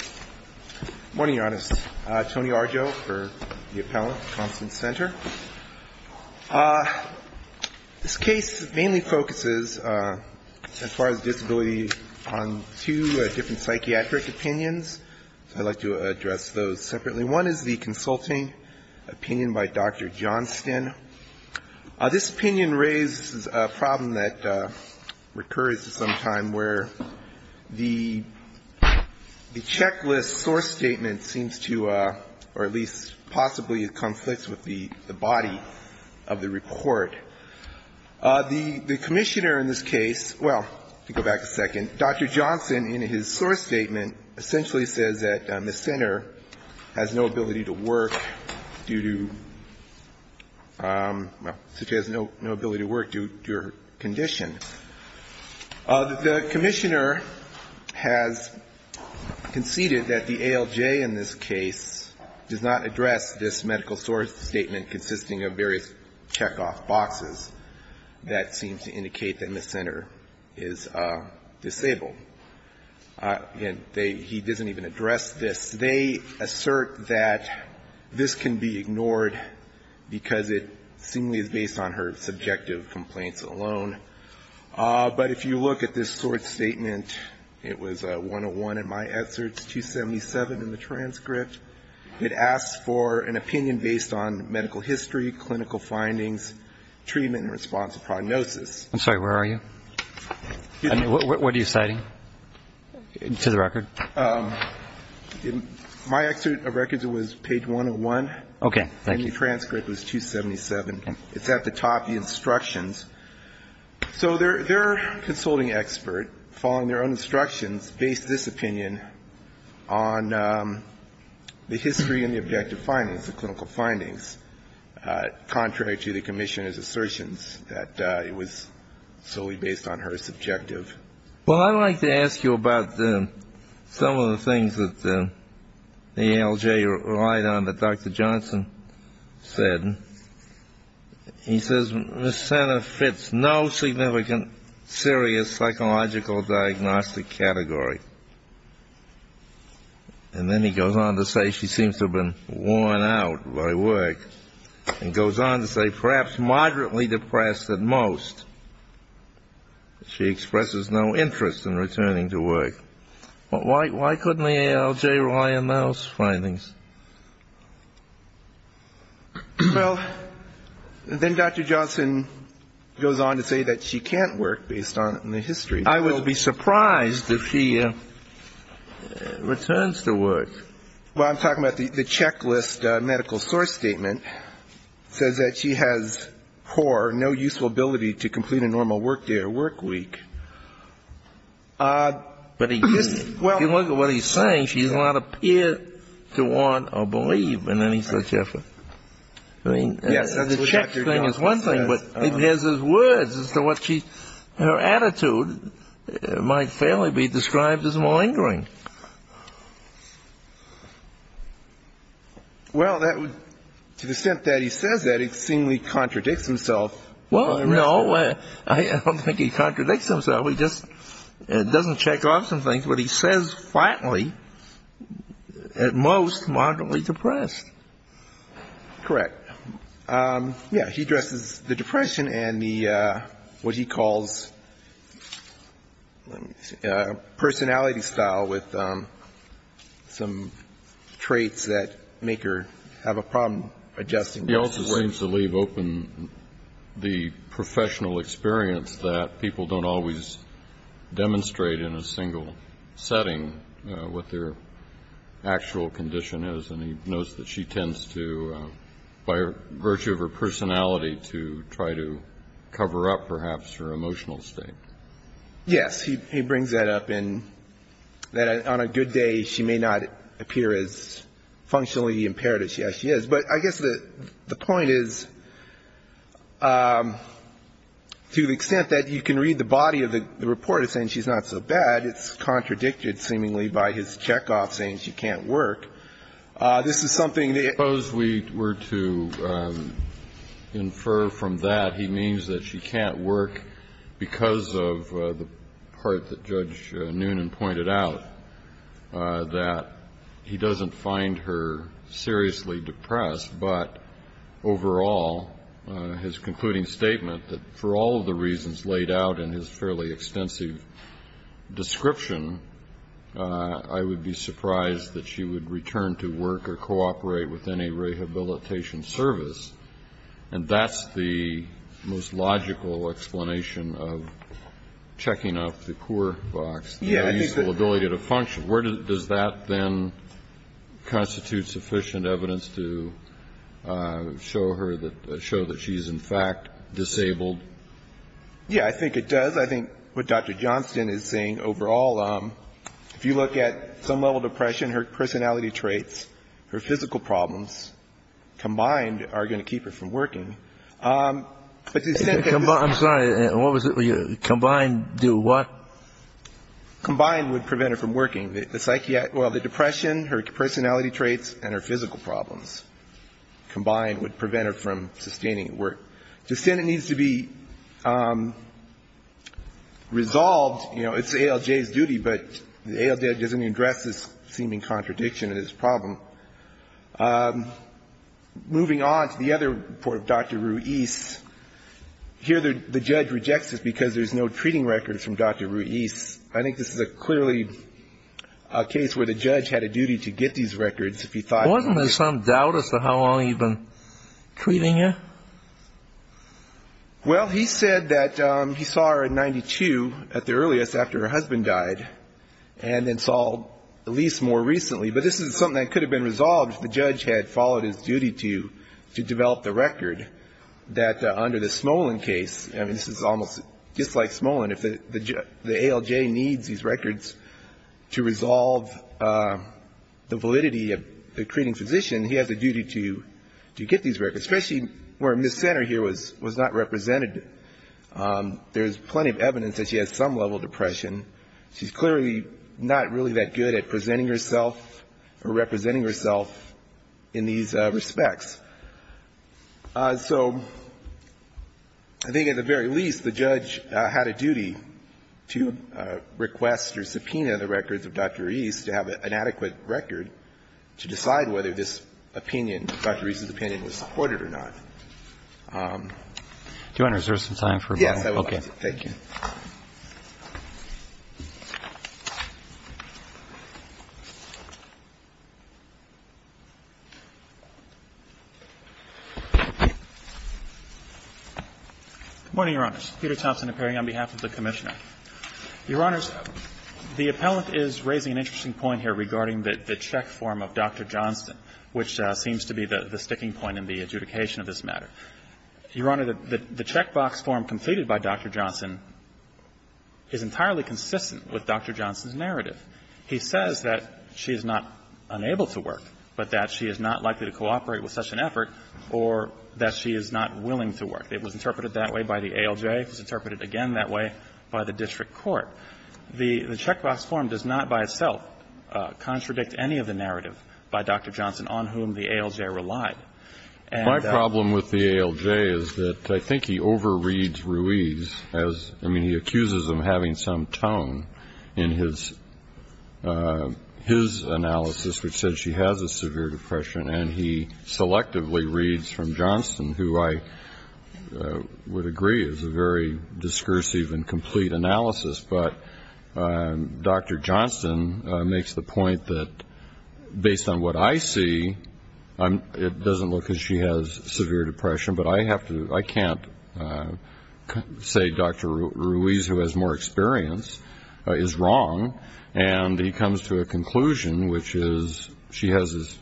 Good morning, Your Honors. Tony Arjo for the Appellant at Constance Center. This case mainly focuses, as far as disability, on two different psychiatric opinions. I'd like to address those separately. One is the consulting opinion by Dr. Johnston. This opinion raises a problem that recurs to some time where the checklist source statement seems to, or at least possibly conflicts with the body of the report. The commissioner in this case, well, to go back a second, Dr. Johnston in his source statement essentially says that the center has no ability to work due to, well, the commissioner has conceded that the ALJ in this case does not address this medical source statement consisting of various checkoff boxes that seem to indicate that Ms. Center is disabled. Again, he doesn't even address this. They assert that this can be ignored because it seemingly is based on her subjective complaints alone. But if you look at this source statement, it was 101 in my excerpts, 277 in the transcript. It asks for an opinion based on medical history, clinical findings, treatment in response to prognosis. I'm sorry, where are you? What are you citing to the record? My excerpt of records was page 101. The transcript was 277. It's at the top, the instructions. So their consulting expert, following their own instructions, based this opinion on the history and the objective findings, the clinical findings, contrary to the commissioner's assertions that it was solely based on her subjective. Well, I'd like to ask you about some of the things that the ALJ relied on that Dr. Johnson said. He says Ms. Center fits no significant serious psychological diagnostic category. And then he goes on to say she seems to have been worn out by work and goes on to say perhaps moderately depressed at most. She expresses no interest in returning to work. Why couldn't the ALJ rely on those findings? Well, then Dr. Johnson goes on to say that she can't work based on the history. I would be surprised if she returns to work. Well, I'm talking about the checklist medical source statement says that she has poor, no useful ability to communicate. She can't complete a normal work day or work week. But if you look at what he's saying, she does not appear to want or believe in any such effort. I mean, the checklist thing is one thing, but there's those words as to what her attitude might fairly be described as malingering. Well, to the extent that he says that, it seemingly contradicts himself. I don't think he contradicts himself. He just doesn't check off some things. But he says flatly, at most moderately depressed. Correct. Yeah, he addresses the depression and the what he calls personality style with some traits that make her have a problem adjusting. He also seems to leave open the professional experience that people don't always demonstrate in a single setting what their actual condition is. And he knows that she tends to, by virtue of her personality, to try to cover up perhaps her emotional state. Yes, he brings that up in that on a good day, she may not appear as functionally impaired as she actually is. But I guess the point is, to the extent that you can read the body of the report as saying she's not so bad, it's contradicted seemingly by his checkoff saying she can't work. This is something that you can't work. Suppose we were to infer from that he means that she can't work because of the part that Judge Noonan pointed out, that he doesn't find her seriously depressed. But overall, his concluding statement that for all of the reasons laid out in his fairly extensive description, I would be surprised that she would return to work or cooperate with any rehabilitation service. And that's the most logical explanation of checking up the poor box, the ability to function. Does that, then, constitute sufficient evidence to show that she's in fact disabled? Yeah, I think it does. I think what Dr. Johnston is saying overall, if you look at some level of depression, her personality traits, her physical problems combined are going to keep her from working. I'm sorry, combined do what? Combined would prevent her from working. Well, the depression, her personality traits, and her physical problems combined would prevent her from sustaining work. The Senate needs to be resolved, you know, it's ALJ's duty, but ALJ doesn't address this seeming contradiction in this problem. Moving on to the other report of Dr. Ruiz, here the judge rejects it because there's no treating records from Dr. Ruiz. I think this is clearly a case where the judge had a duty to get these records if he thought... Wasn't there some doubt as to how long he'd been treating her? Well, he said that he saw her in 92 at the earliest after her husband died, and then saw Elise more recently. But this is something that could have been resolved if the judge had followed his duty to develop the record, that under the Smolin case, I mean, this is almost just like Smolin, if the ALJ needs these records to resolve the validity of the treating physician, he has a duty to get these records, especially where Ms. Center here was not represented. There's plenty of evidence that she has some level of depression. She's clearly not really that good at presenting herself or representing herself in these respects. So I think at the very least, the judge had a duty to request or subpoena the records of Dr. Ruiz to have an adequate record to decide whether this opinion, Dr. Ruiz's opinion, was supported or not. Do you want to reserve some time for a moment? Yes, I would like to. Okay. Thank you. Good morning, Your Honors. Peter Thompson appearing on behalf of the Commissioner. Your Honors, the appellant is raising an interesting point here regarding the check form of Dr. Johnston, which seems to be the sticking point in the adjudication of this matter. Your Honor, the check box form completed by Dr. Johnston is entirely consistent with Dr. Johnston's narrative. He says that she is not unable to work, but that she is not likely to cooperate with such an effort, or that she is not willing to work. It was interpreted that way by the ALJ. It was interpreted again that way by the district court. The check box form does not by itself contradict any of the narrative by Dr. Johnston on whom the ALJ relied. My problem with the ALJ is that I think he overreads Ruiz. I mean, he accuses him of having some tone in his analysis, which says she has a severe depression, and he selectively reads from Johnston, who I would agree is a very discursive and complete analysis. But Dr. Johnston makes the point that, based on what I see, it doesn't look as if she has severe depression. But I can't say Dr. Ruiz, who has more experience, is wrong. And he comes to a conclusion, which is she has this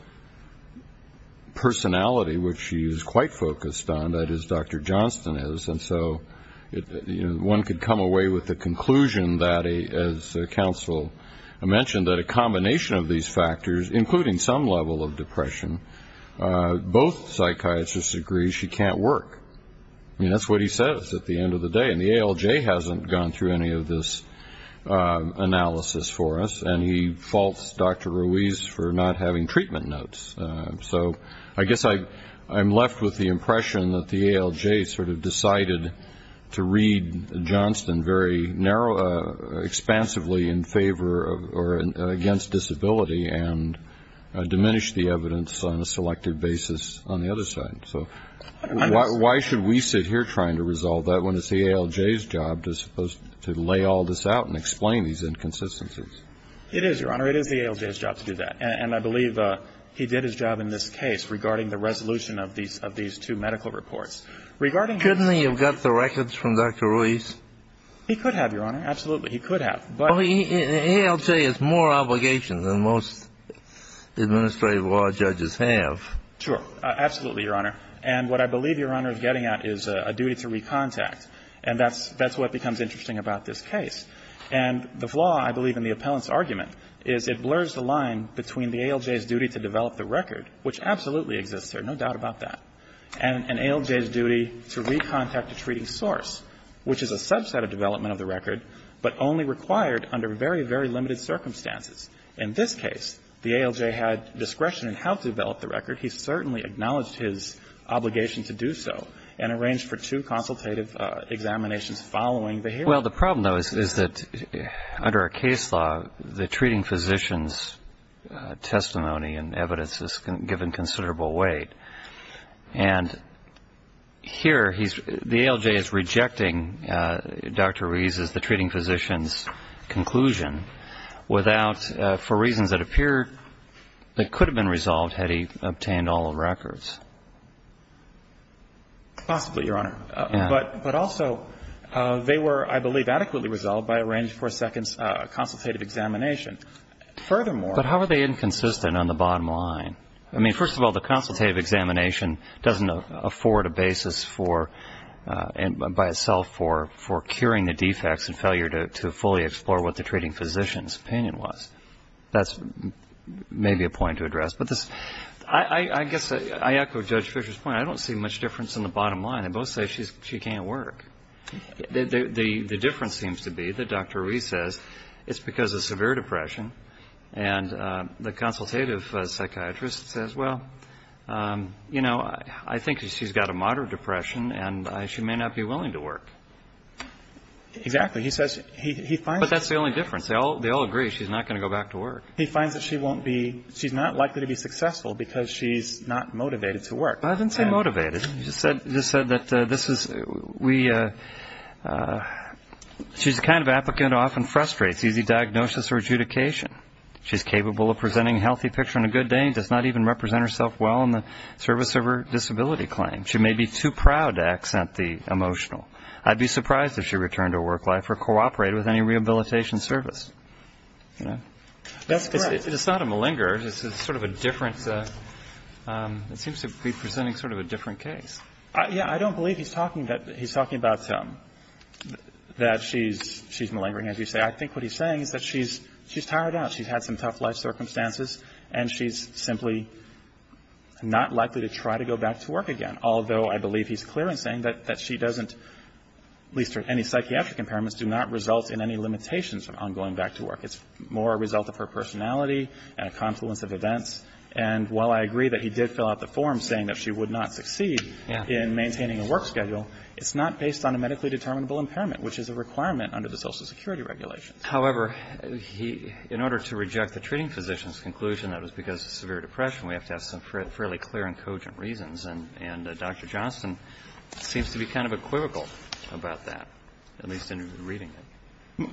personality which she is quite focused on, that is Dr. Johnston is. And so one could come away with the conclusion that, as counsel mentioned, that a combination of these factors, including some level of depression, both psychiatrists agree she can't work. I mean, that's what he says at the end of the day. And the ALJ hasn't gone through any of this analysis for us, and he faults Dr. Ruiz for not having treatment notes. So I guess I'm left with the impression that the ALJ sort of decided to read Johnston very expansively in favor or against disability and diminish the evidence on a selective basis on the other side. So why should we sit here trying to resolve that when it's the ALJ's job to lay all this out and explain these inconsistencies? It is, Your Honor. It is the ALJ's job to do that. And I believe he did his job in this case regarding the resolution of these two medical reports. Regarding his own case. Kennedy, you've got the records from Dr. Ruiz? He could have, Your Honor. Absolutely, he could have. Well, the ALJ has more obligations than most administrative law judges have. Sure. Absolutely, Your Honor. And what I believe Your Honor is getting at is a duty to recontact. And that's what becomes interesting about this case. And the flaw, I believe, in the appellant's argument is it blurs the line between the ALJ's duty to develop the record, which absolutely exists here, no doubt about that, and an ALJ's duty to recontact a treating source, which is a subset of development of the record, but only required under very, very limited circumstances. In this case, the ALJ had discretion in how to develop the record. He certainly acknowledged his obligation to do so and arranged for two consultative examinations following the hearing. Well, the problem, though, is that under a case law, the treating physician's testimony and evidence is given considerable weight. And here the ALJ is rejecting Dr. Ruiz's, the treating physician's conclusion without, for reasons that appear that could have been resolved had he obtained all the records. Possibly, Your Honor. Yeah. But also, they were, I believe, adequately resolved by arranging for a second consultative examination. Furthermore ---- But how are they inconsistent on the bottom line? I mean, first of all, the consultative examination doesn't afford a basis for, by itself, for curing the defects and failure to fully explore what the treating physician's opinion was. That's maybe a point to address. But I guess I echo Judge Fisher's point. I don't see much difference in the bottom line. They both say she can't work. The difference seems to be that Dr. Ruiz says it's because of severe depression. And the consultative psychiatrist says, well, you know, I think she's got a moderate depression and she may not be willing to work. Exactly. He says he finds ---- But that's the only difference. They all agree she's not going to go back to work. He finds that she won't be, she's not likely to be successful because she's not motivated to work. I didn't say motivated. He just said that this is, we, she's the kind of applicant who often frustrates easy diagnosis or adjudication. She's capable of presenting a healthy picture on a good day and does not even represent herself well in the service of her disability claim. She may be too proud to accent the emotional. I'd be surprised if she returned to work life or cooperated with any rehabilitation service. That's correct. It's not a malinger. It's sort of a different, it seems to be presenting sort of a different case. Yeah. I don't believe he's talking about that she's malingering, as you say. I think what he's saying is that she's tired out. She's had some tough life circumstances and she's simply not likely to try to go back to work again, although I believe he's clear in saying that she doesn't, at least in any psychiatric impairments, do not result in any limitations on going back to work. It's more a result of her personality and a confluence of events. And while I agree that he did fill out the form saying that she would not succeed in maintaining a work schedule, it's not based on a medically determinable impairment, which is a requirement under the Social Security regulations. However, he, in order to reject the treating physician's conclusion that it was because of severe depression, we have to have some fairly clear and cogent reasons. And Dr. Johnston seems to be kind of equivocal about that, at least in reading it.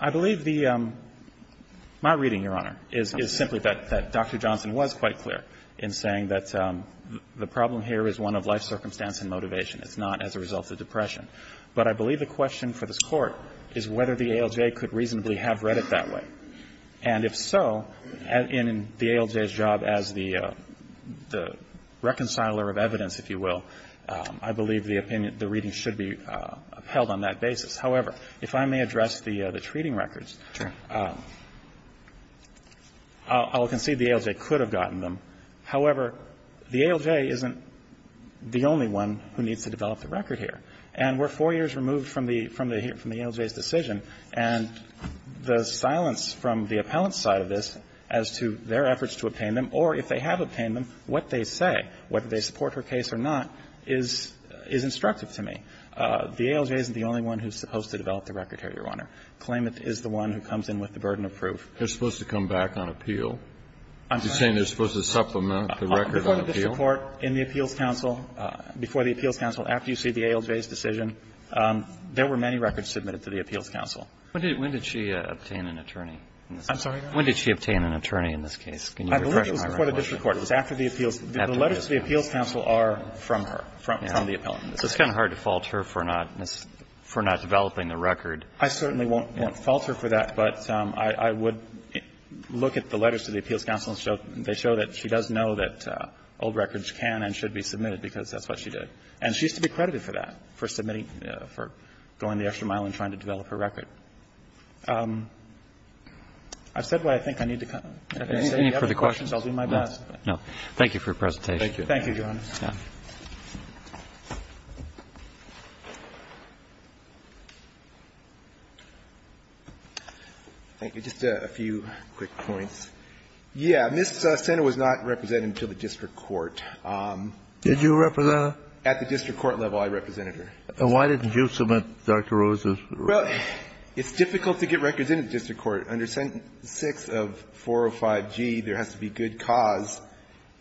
I believe the my reading, Your Honor, is simply that Dr. Johnston was quite clear in saying that the problem here is one of life circumstance and motivation. It's not as a result of depression. But I believe the question for this Court is whether the ALJ could reasonably have read it that way. And if so, in the ALJ's job as the reconciler of evidence, if you will, I believe the opinion, the reading should be upheld on that basis. However, if I may address the treating records, I'll concede the ALJ could have gotten them. However, the ALJ isn't the only one who needs to develop the record here. And we're four years removed from the ALJ's decision. And the silence from the appellant's side of this as to their efforts to obtain them, or if they have obtained them, what they say, whether they support her case or not, is instructive to me. The ALJ isn't the only one who's supposed to develop the record here, Your Honor. Klamath is the one who comes in with the burden of proof. Kennedy. They're supposed to come back on appeal? You're saying they're supposed to supplement the record on appeal? Before the district court, in the Appeals Council, before the Appeals Council, after you see the ALJ's decision, there were many records submitted to the Appeals Council. When did she obtain an attorney? I'm sorry, Your Honor? When did she obtain an attorney in this case? Can you reflect on my recollection? It was after the Appeals. The letters to the Appeals Council are from her, from the appellant. So it's kind of hard to fault her for not developing the record. I certainly won't fault her for that. But I would look at the letters to the Appeals Council. They show that she does know that old records can and should be submitted, because that's what she did. And she used to be credited for that, for submitting, for going the extra mile and trying to develop her record. I've said what I think I need to say. If you have any questions, I'll do my best. No. Thank you for your presentation. Thank you. Thank you, Your Honor. Yeah. Thank you. Just a few quick points. Yeah. Ms. Sender was not represented until the district court. Did you represent her? At the district court level, I represented her. And why didn't you submit Dr. Rose's record? Well, it's difficult to get records in the district court. Under Sentence 6 of 405G, there has to be good cause.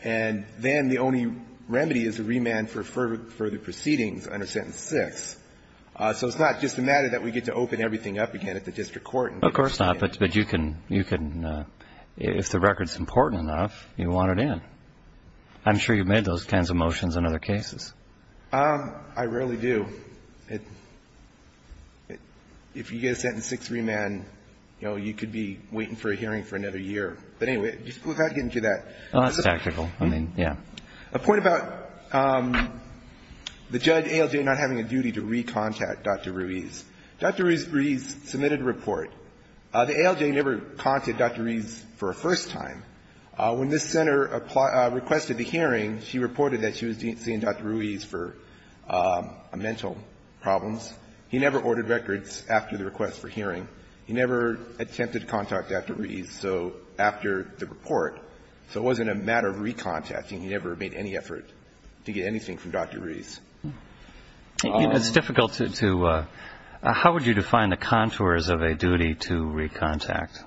And then the only remedy is a remand for further proceedings under Sentence 6. So it's not just a matter that we get to open everything up again at the district court. Of course not. But you can, if the record's important enough, you want it in. I'm sure you've made those kinds of motions in other cases. I rarely do. If you get a sentence 6 remand, you know, you could be waiting for a hearing for another year. But anyway, without getting into that. Well, that's tactical. I mean, yeah. A point about the judge, ALJ, not having a duty to recontact Dr. Ruiz. Dr. Ruiz submitted a report. The ALJ never contacted Dr. Ruiz for a first time. When Ms. Sender requested the hearing, she reported that she was seeing Dr. Ruiz for mental problems. He never ordered records after the request for hearing. He never attempted contact after Ruiz, so after the report. So it wasn't a matter of recontacting. He never made any effort to get anything from Dr. Ruiz. It's difficult to do. How would you define the contours of a duty to recontact?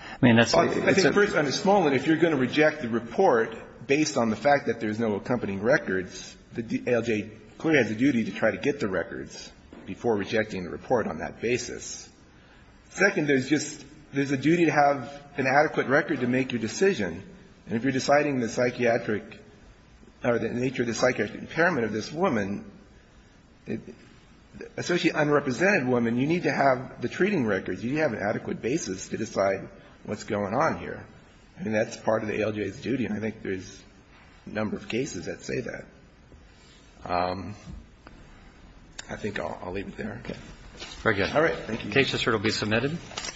I mean, that's a... I think first and foremost, if you're going to reject the report based on the fact that there's no accompanying records, the ALJ clearly has a duty to try to get the records before rejecting the report on that basis. Second, there's just a duty to have an adequate record to make your decision. And if you're deciding the psychiatric or the nature of the psychiatric impairment of this woman, especially an unrepresented woman, you need to have the treating records. You need to have an adequate basis to decide what's going on here. I mean, that's part of the ALJ's duty. And I think there's a number of cases that say that. I think I'll leave it there. Okay. Very good. All right. Thank you. The case is here to be submitted. Thank you.